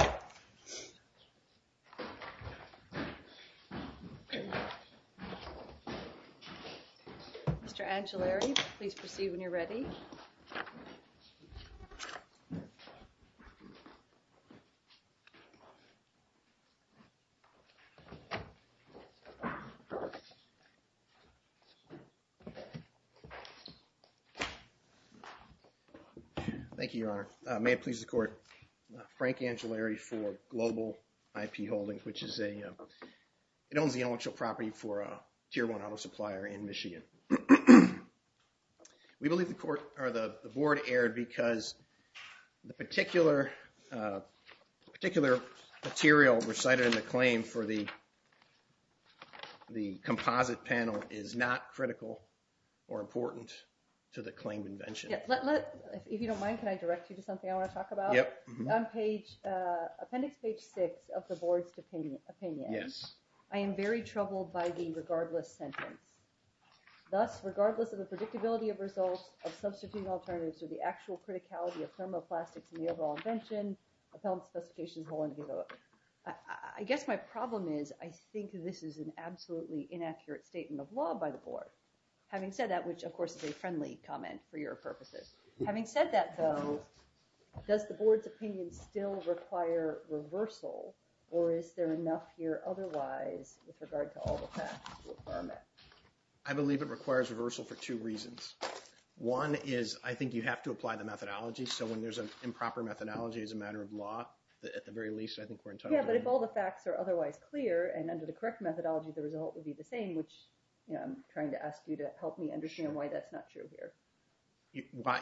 Mr. Angellari, please proceed when you're ready. Thank you, Your Honor. May it please the court, Frank Angellari for Global IP Holdings, which is a, it owns the own property for a tier one auto supplier in Michigan. We believe the board erred because the particular material recited in the claim for the composite panel is not critical or important to the claimed invention. If you don't mind, can I direct you to something I want to talk about? Yep. On appendix page six of the board's opinion, I am very troubled by the regardless sentence. Thus, regardless of the predictability of results of substituting alternatives or the actual criticality of thermoplastics in the overall invention, appellant specifications will undergo. I guess my problem is I think this is an absolutely inaccurate statement of law by the board. Having said that, which of course is a friendly comment for your purposes. Having said that though, does the board's opinion still require reversal or is there enough here otherwise with regard to all the facts? I believe it requires reversal for two reasons. One is I think you have to apply the methodology, so when there's an improper methodology as a matter of law, at the very least I think we're entitled to it. Yeah, but if all the facts are otherwise clear and under the correct methodology, the result would be the same, which I'm trying to ask you to help me understand why that's not true here.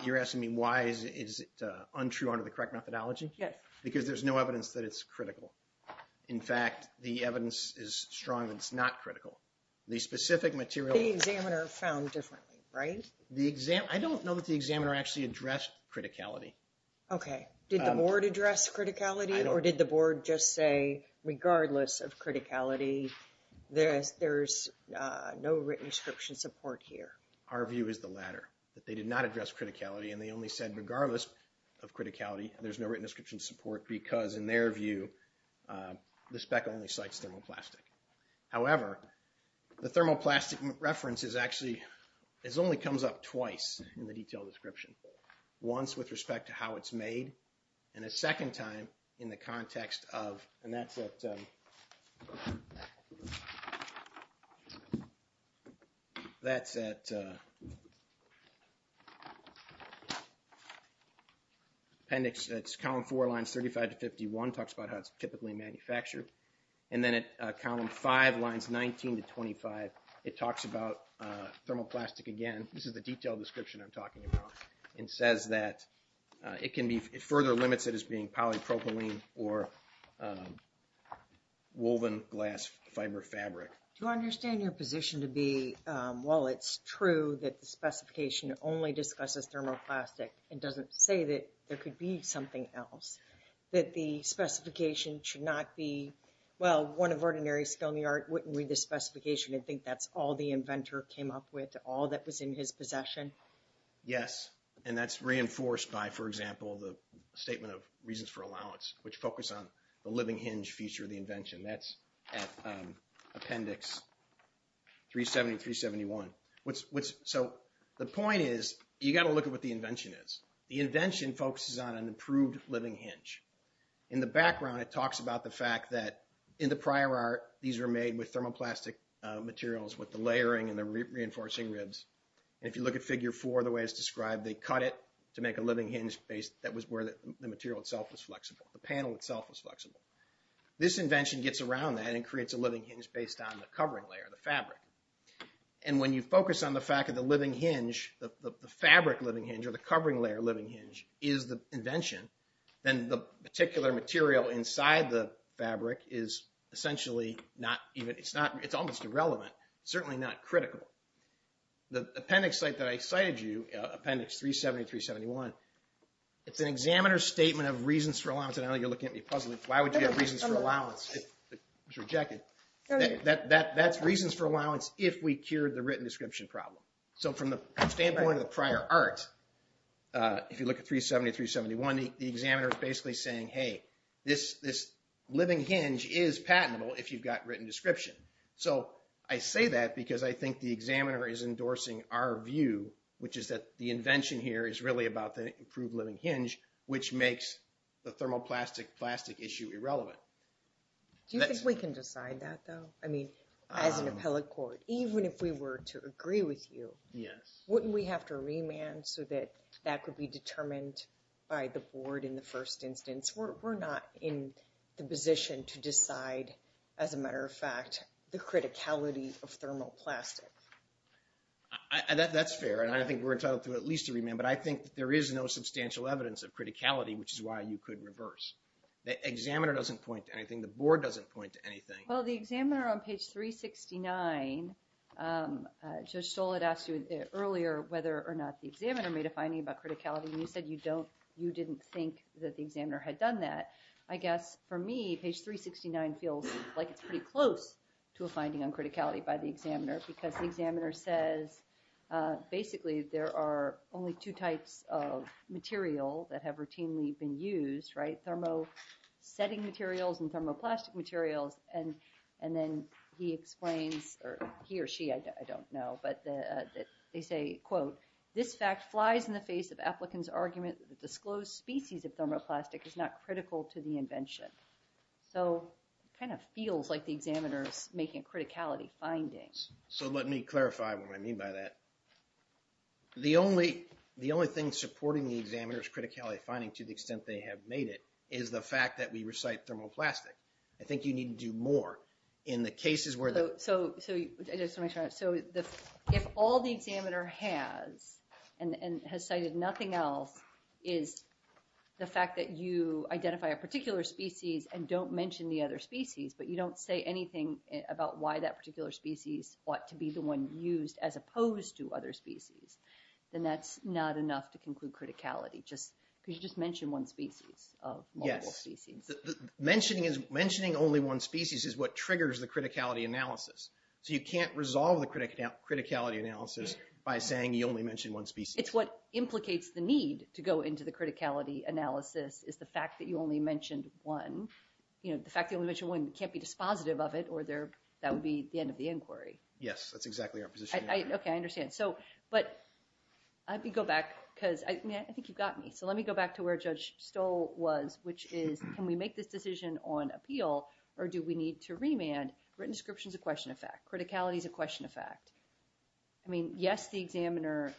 You're asking me why is it untrue under the correct methodology? Yes. Because there's no evidence that it's critical. In fact, the evidence is strong that it's not critical. The specific material... The examiner found differently, right? I don't know that the examiner actually addressed criticality. Okay. Did the board address criticality or did the board just say regardless of criticality, there's no written description support here? Our view is the latter, that they did not address criticality and they only said regardless of criticality, there's no written description support because in their view, the spec only cites thermoplastic. However, the thermoplastic reference is actually... It only comes up twice in the detailed description. Once with respect to how it's made and a second time in the context of... And that's at... That's at... Appendix... It's column four, lines 35 to 51, talks about how it's typically manufactured. And then at column five, lines 19 to 25, it talks about thermoplastic again. This is the detailed description I'm talking about and says that it can be... It further limits it as being polypropylene or woven glass fiber fabric. Do I understand your position to be, well, it's true that the specification only discusses thermoplastic and doesn't say that there could be something else? That the specification should not be, well, one of ordinary skilled in the art wouldn't read the specification and think that's all the inventor came up with, all that was in his possession? Yes. And that's reinforced by, for example, the statement of reasons for allowance, which focus on the living hinge feature of the invention. That's at appendix 370, 371. So the point is, you got to look at what the invention is. The invention focuses on an improved living hinge. In the background, it talks about the fact that in the prior art, these were made with thermoplastic materials with the layering and the reinforcing ribs. And if you look at figure four, the way it's described, they cut it to make a living hinge base that was where the material itself was flexible, the panel itself was flexible. This invention gets around that and creates a living hinge based on the covering layer, the fabric. And when you focus on the fact of the living hinge, the fabric living hinge or the covering layer living hinge is the invention, then the particular material inside the fabric is essentially not even, it's almost irrelevant, certainly not critical. The appendix site that I cited to you, appendix 370, 371, it's an examiner's statement of reasons for allowance. I know you're looking at me puzzled. Why would you have reasons for allowance? It was rejected. That's reasons for allowance if we cured the written description problem. So from the standpoint of the prior art, if you look at 370, 371, the examiner is basically saying, hey, this living hinge is patentable if you've got written description. So I say that because I think the examiner is endorsing our view, which is that the invention here is really about the improved living hinge, which makes the thermoplastic plastic issue irrelevant. Do you think we can decide that, though? I mean, as an appellate court, even if we were to agree with you, wouldn't we have to remand so that that could be determined by the board in the first instance? We're not in the position to decide, as a matter of fact, the criticality of thermoplastic. That's fair, and I think we're entitled to at least a remand, but I think that there is no substantial evidence of criticality, which is why you could reverse. The examiner doesn't point to anything. The board doesn't point to anything. Well, the examiner on page 369, Judge Stoll had asked you earlier whether or not the examiner made a finding about criticality, and you said you didn't think that the examiner had done that. I guess, for me, page 369 feels like it's pretty close to a finding on criticality by the examiner, because the examiner says basically there are only two types of material that have routinely been used, right? Thermosetting materials and thermoplastic materials, and then he explains, or he or she, I don't know, but they say, quote, this fact flies in the face of applicants' argument that the disclosed species of thermoplastic is not critical to the invention. So it kind of feels like the examiner is making a criticality finding. So let me clarify what I mean by that. The only thing supporting the examiner's criticality finding to the extent they have made it is the fact that we recite thermoplastic. I think you need to do more in the cases where... So if all the examiner has, and has cited nothing else, is the fact that you identify a particular species and don't mention the other species, but you don't say anything about why that particular species ought to be the one used as opposed to other species, then that's not enough to conclude criticality. Could you just mention one species of all those species? Yes. Mentioning only one species is what triggers the criticality analysis. So you can't resolve the criticality analysis by saying you only mentioned one species. It's what implicates the need to go into the criticality analysis is the fact that you only mentioned one. The fact that you only mentioned one can't be dispositive of it or that would be the end of the inquiry. Yes, that's exactly our position. OK, I understand. But let me go back, because I think you've got me. So let me go back to where Judge Stoll was, which is, can we make this decision on appeal or do we need to remand? Written description is a question of fact. Criticality is a question of fact. I mean, yes, the examiner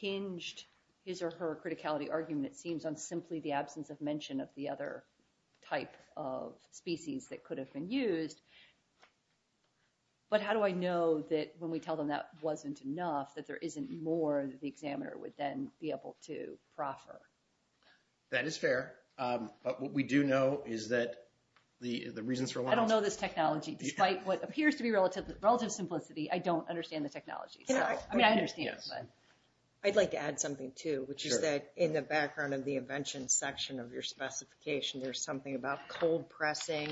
hinged his or her criticality argument, it seems, on simply the absence of mention of the other type of species that could have been used. But how do I know that when we tell them that wasn't enough, that there isn't more that the examiner would then be able to proffer? That is fair. But what we do know is that the reasons for... I don't know this technology. Despite what appears to be relative simplicity, I don't understand the technology. I mean, I understand, but... I'd like to add something, too, which is that in the background of the invention section of your specification, there's something about cold pressing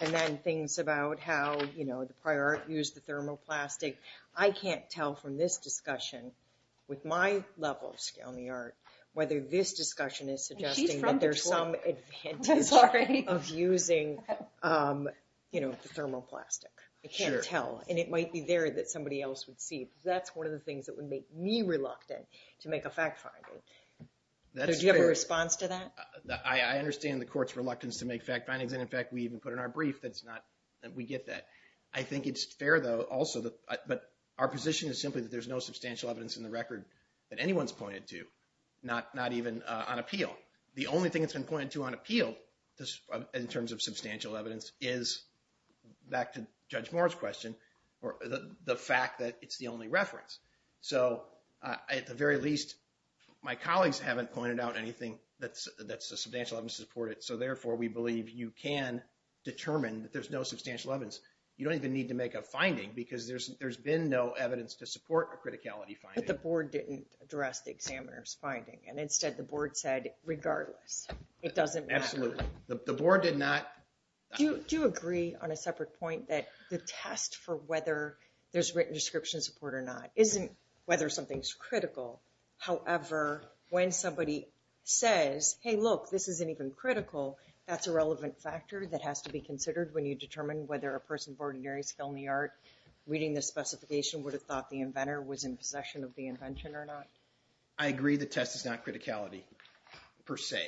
and then things about how, you know, the prior art used the thermoplastic. I can't tell from this discussion, with my level of skill in the art, whether this discussion is suggesting that there's some advantage of using, you know, the thermoplastic. I can't tell. And it might be there that somebody else would see. That's one of the things that would make me reluctant to make a fact finding. Do you have a response to that? I understand the Court's reluctance to make fact findings, and, in fact, we even put in our brief that we get that. I think it's fair, though, also... But our position is simply that there's no substantial evidence in the record that anyone's pointed to, not even on appeal. The only thing that's been pointed to on appeal, in terms of substantial evidence, is, back to Judge Moore's question, the fact that it's the only reference. So at the very least, my colleagues haven't pointed out anything that's a substantial evidence to support it, so, therefore, we believe you can determine that there's no substantial evidence. You don't even need to make a finding because there's been no evidence to support a criticality finding. But the Board didn't address the examiner's finding, and, instead, the Board said, regardless, it doesn't matter. Absolutely. The Board did not... Do you agree, on a separate point, that the test for whether there's written description support or not isn't whether something's critical. However, when somebody says, hey, look, this isn't even critical, that's a relevant factor that has to be considered when you determine whether a person of ordinary skill in the art reading this specification would have thought the inventor was in possession of the invention or not? I agree the test is not criticality, per se.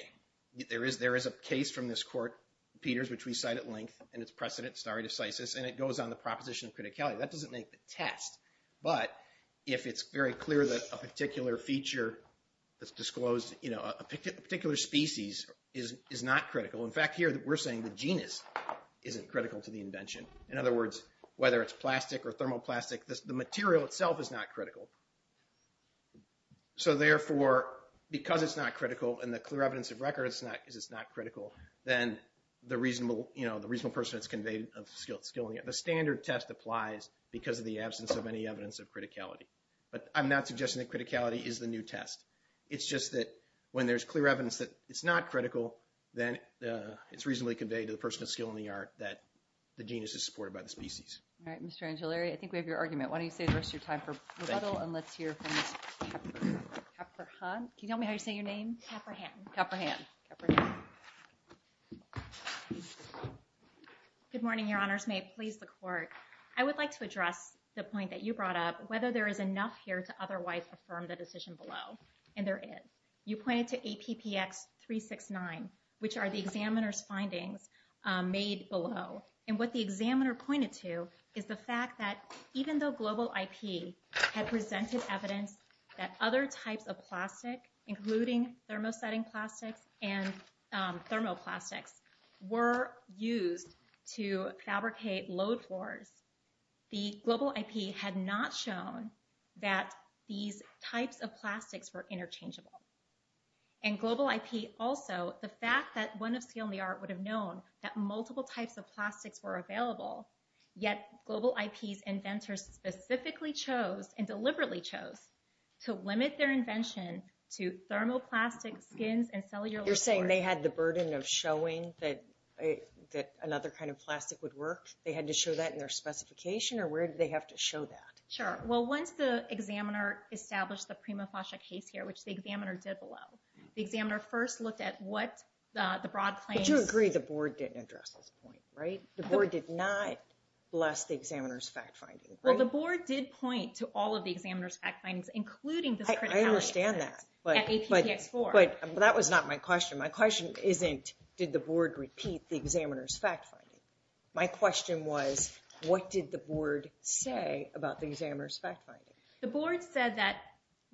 There is a case from this court, Peters, which we cite at length, and its precedent, stare decisis, and it goes on the proposition of criticality. That doesn't make the test, but if it's very clear that a particular feature that's disclosed, a particular species, is not critical. In fact, here, we're saying the genus isn't critical to the invention. In other words, whether it's plastic or thermoplastic, the material itself is not critical. So, therefore, because it's not critical, and the clear evidence of record is it's not critical, then the reasonable person that's conveyed of skill, the standard test applies because of the absence of any evidence of criticality. But I'm not suggesting that criticality is the new test. It's just that when there's clear evidence that it's not critical, then it's reasonably conveyed to the person of skill in the art that the genus is supported by the species. Mr. Angiolari, I think we have your argument. Why don't you save the rest of your time for rebuttal, and let's hear from Ms. Kaperhan. Can you tell me how you say your name? Kaperhan. Good morning, Your Honors. May it please the Court. I would like to address the point that you brought up, whether there is enough here to otherwise affirm the decision below. And there is. You pointed to APPX-369, which are the examiner's findings made below. And what the examiner pointed to is the fact that even though global IP had presented evidence that other types of plastic, including thermosetting plastics and thermoplastics, were used to fabricate load floors, the global IP had not shown that these types of plastics were interchangeable. And global IP also, the fact that one of skill in the art would have known that multiple types of plastics were available, yet global IP's inventors specifically chose, and deliberately chose, to limit their invention to thermoplastic skins and cellular... You're saying they had the burden of showing that another kind of plastic would work? They had to show that in their specification or where did they have to show that? Sure. Well, once the examiner established the prima facie case here, which the examiner did below, the examiner first looked at what the broad claims... But you agree the board didn't address this point, right? The board did not bless the examiner's fact-finding, right? Well, the board did point to all of the examiner's fact-findings, including this criticality... I understand that. But that was not my question. My question isn't, did the board repeat the examiner's fact-finding? My question was, what did the board say about the examiner's fact-finding? The board said that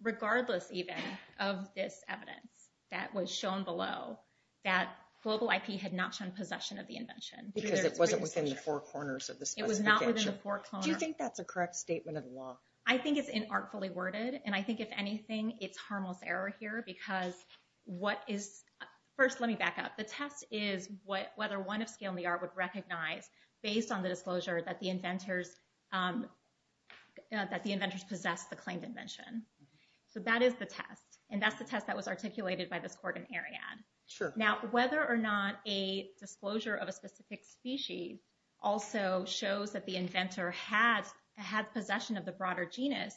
regardless, even, of this evidence that was shown below, that global IP had not shown possession of the invention. Because it wasn't within the four corners of the specification. It was not within the four corners. Do you think that's a correct statement of the law? I think it's inartfully worded, and I think, if anything, it's harmless error here, because what is... First, let me back up. The test is whether one of scale in the art would recognize based on the disclosure that the inventors possessed the claimed invention. So that is the test. And that's the test that was articulated by this court in Ariadne. Now, whether or not a disclosure of a specific species also shows that the inventor had possession of the broader genus,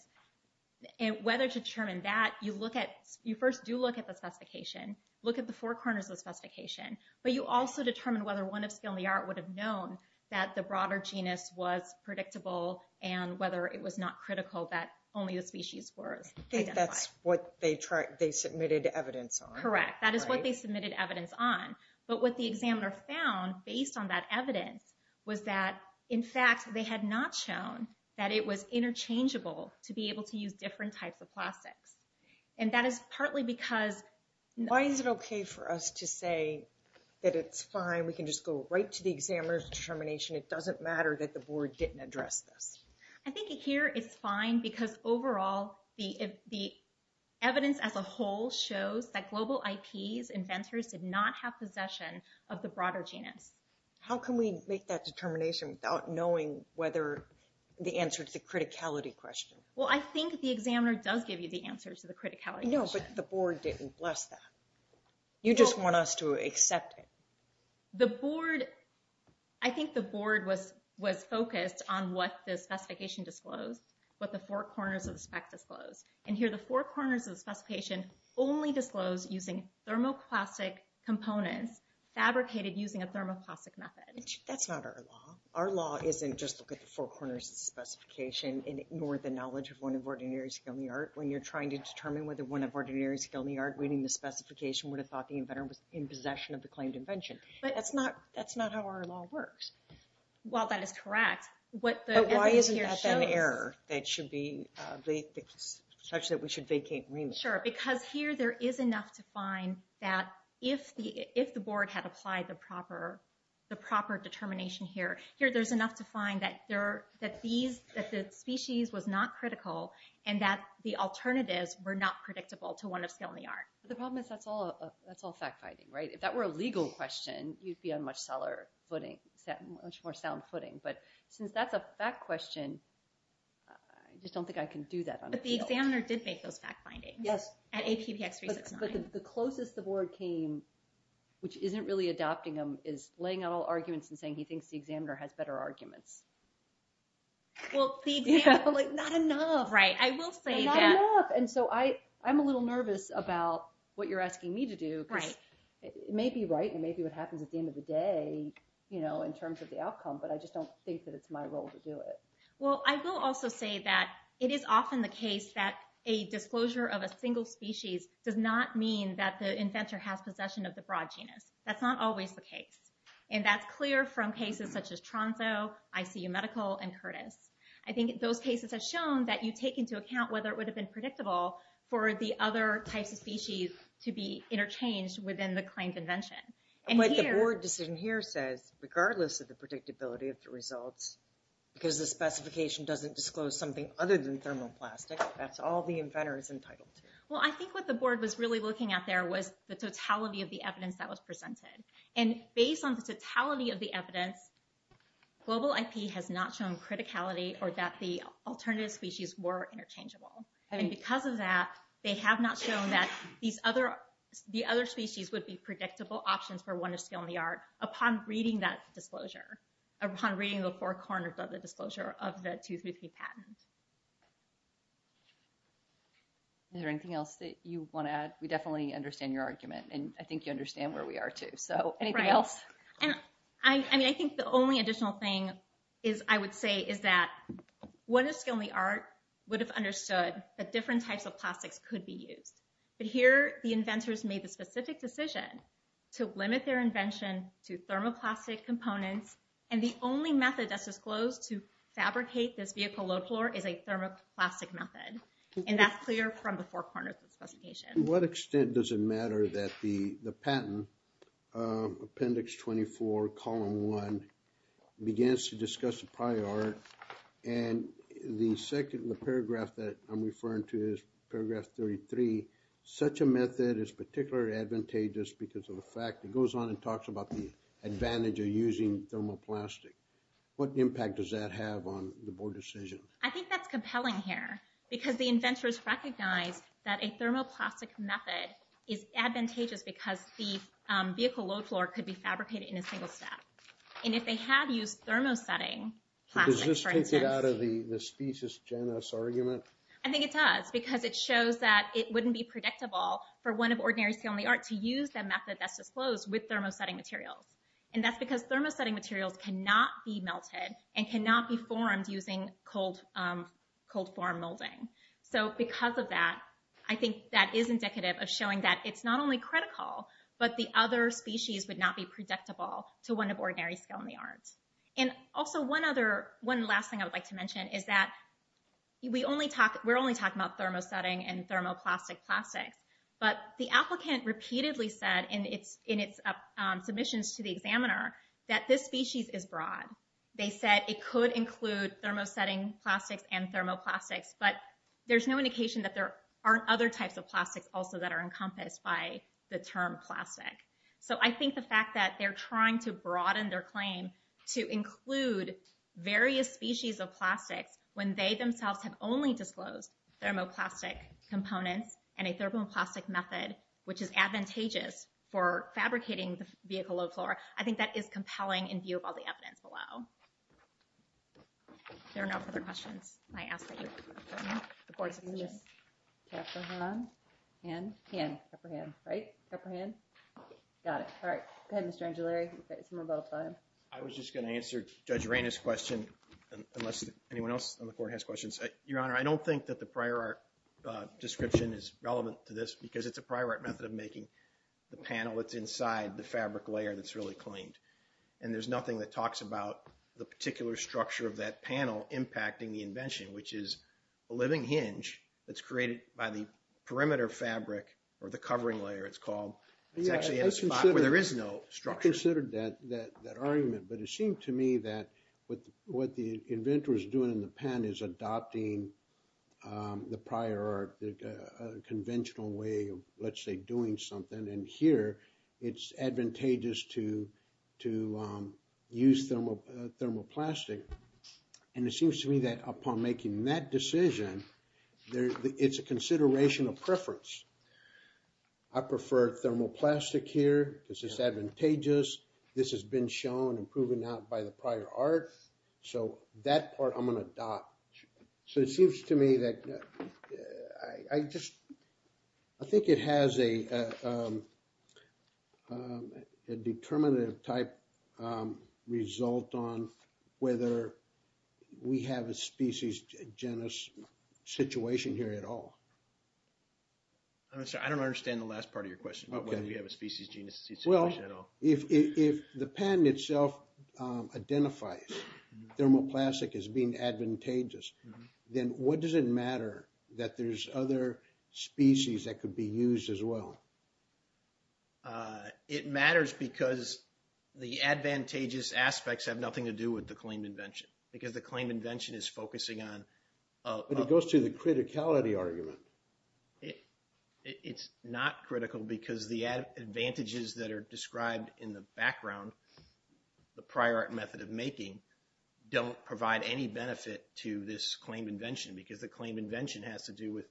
and whether to determine that, you first do look at the specification. Look at the four corners of the specification. But you also determine whether one of scale in the art would have known that the broader genus was predictable, and whether it was not critical that only the species was identified. I think that's what they submitted evidence on. Correct. That is what they submitted evidence on. But what the examiner found, based on that evidence, was that in fact, they had not shown that it was interchangeable to be able to use different types of plastics. And that is partly because Why is it okay for us to say that it's fine, we can just go right to the examiner's determination, it doesn't matter that the board didn't address this? I think here it's fine because overall the evidence as a whole shows that global IPs, inventors, did not have possession of the broader genus. How can we make that determination without knowing whether the answer to the criticality question? Well I think the examiner does give you the answer to the criticality question. No, but the board didn't bless that. You just want us to accept it. The board I think the board was focused on what the specification disclosed, what the four corners of the spec disclosed. And here the four corners of the specification only disclosed using thermoplastic components, fabricated using a thermoplastic method. That's not our law. Our law isn't just look at the four corners of the specification and ignore the knowledge of one of ordinary skill in the art. When you're trying to determine whether one of ordinary skill in the art reading the specification would have thought the inventor was in possession of the claimed invention. That's not how our law works. Well that is correct. But why isn't that an error that should be such that we should vacate agreement? Sure, because here there is enough to find that if the board had applied the proper determination here, here there's enough to find that the species was not critical and that the alternatives were not predictable to one of skill in the art. The problem is that's all fact finding. If that were a legal question, you'd be on much more sound footing. But since that's a fact question, I just don't think I can do that on a field. But the examiner did make those fact findings. Yes, but the closest the board came, which isn't really adopting them, is laying out all arguments and saying he thinks the examiner has better arguments. Well, the examiner is like, not enough! Right, I will say that. I'm a little nervous about what you're asking me to do, because it may be right and it may be what happens at the end of the day in terms of the outcome, but I just don't think that it's my role to do it. Well, I will also say that it is often the case that a disclosure of a single species does not mean that the inventor has possession of the broad genus. That's not always the case. And that's clear from cases such as Tronso, ICU Medical, and Curtis. I think those cases have shown that you take into account whether it would have been predictable for the other types of species to be interchanged within the claimed invention. But the board decision here says, regardless of the predictability of the results, because the specification doesn't disclose something other than thermoplastic, that's all the inventor is entitled to. Well, I think what the board was really looking at there was the totality of the evidence that was presented. And based on the totality of the evidence, global IP has not shown criticality or that the alternative species were interchangeable. And because of that, they have not shown that the other species would be predictable options for one of scale and the art upon reading that disclosure, upon reading the four corners of the disclosure of the 2-3P patent. Is there anything else that you want to add? We definitely understand your argument. And I think you understand where we are, too. So, anything else? I think the only additional thing I would say is that one of scale and the art would have understood that different types of plastics could be used. But here, the inventors made the specific decision to limit their invention to thermoplastic components and the only method that's disclosed to fabricate this vehicle load floor is a thermoplastic method. And that's clear from the four corners of the specification. To what extent does it matter that the patent Appendix 24 Column 1 begins to discuss the prior art and the second paragraph that I'm referring to is paragraph 33, such a method is particularly advantageous because of the fact it goes on and talks about the advantage of using thermoplastic. What impact does that have on the board decision? I think that's compelling here. Because the inventors recognized that a thermoplastic method is advantageous because the vehicle load floor could be fabricated in a single step. And if they had used thermosetting plastic, for instance... Does this take it out of the species genus argument? I think it does. Because it shows that it wouldn't be predictable for one of ordinary scale and the art to use the method that's disclosed with thermosetting materials. And that's because thermosetting materials cannot be melted and cannot be formed using cold form molding. So because of that, I think that is indicative of showing that it's not only critical, but the other species would not be predictable to one of ordinary scale and the art. And also one last thing I would like to mention is that we're only talking about thermosetting and thermoplastic plastics but the applicant repeatedly said in its submissions to the examiner that this species is broad. They said it could include thermosetting plastics and thermoplastics, but there's no indication that there aren't other types of plastics also that are encompassed by the term plastic. So I think the fact that they're trying to broaden their claim to include various species of plastics when they themselves have only disclosed thermoplastic components and a thermoplastic method which is advantageous for fabricating the vehicle low-floor I think that is compelling in view of all the evidence below. If there are no further questions, I ask that you adjourn. The court is adjourned. Caprahan? Hand? Hand. Caprahan. Right? Caprahan? Got it. Alright. Go ahead, Mr. Angiolari. We've got a little bit of time. I was just going to answer Judge Reina's question unless anyone else on the court has questions. Your Honor, I don't think that the prior art description is relevant to this because it's a prior art method of making the panel that's inside the fabric layer that's really cleaned. And there's nothing that talks about the particular structure of that panel impacting the invention, which is a living hinge that's created by the perimeter fabric or the covering layer, it's called. It's actually in a spot where there is no structure. I considered that argument but it seemed to me that what the inventor is doing in the pen is adopting the prior art conventional way of let's say doing something and here it's advantageous to use thermoplastic and it seems to me that upon making that decision it's a consideration of preference. I prefer thermoplastic here because it's advantageous. This has been shown and proven out by the prior art so that part I'm going to adopt. So it seems to me that I just think it has a determinative type result on whether we have a species genus situation here at all. I'm sorry, I don't understand the last part of your question about whether we have a species genus situation at all. If the pen itself identifies thermoplastic as being advantageous then what does it matter that there's other species that could be used as well? It matters because the advantageous aspects have nothing to do with the claimed invention. Because the claimed invention is focusing on But it goes to the criticality argument. It's not critical because the advantages that are described in the background the prior art method of making don't provide any benefit to this claimed invention because the claimed invention has to do with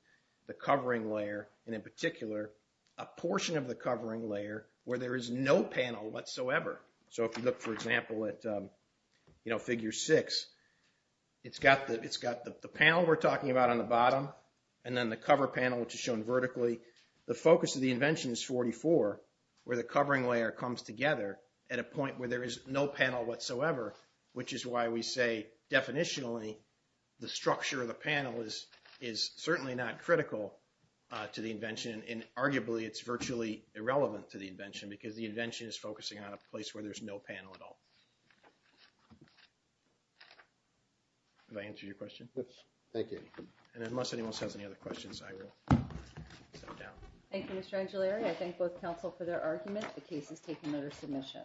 the covering layer and in particular a portion of the covering layer where there is no panel whatsoever. So if you look for example at figure 6 it's got the panel we're talking about on the bottom and then the cover panel which is shown vertically the focus of the invention is 44 where the covering layer comes together at a point where there is no panel whatsoever which is why we say definitionally the structure of the panel is certainly not critical to the invention and arguably it's virtually irrelevant to the invention because the invention is focusing on a place where there's no panel at all. Have I answered your question? Unless anyone else has any other questions I will Thank you Mr. Angelari I thank both counsel for their argument the case is taken under submission.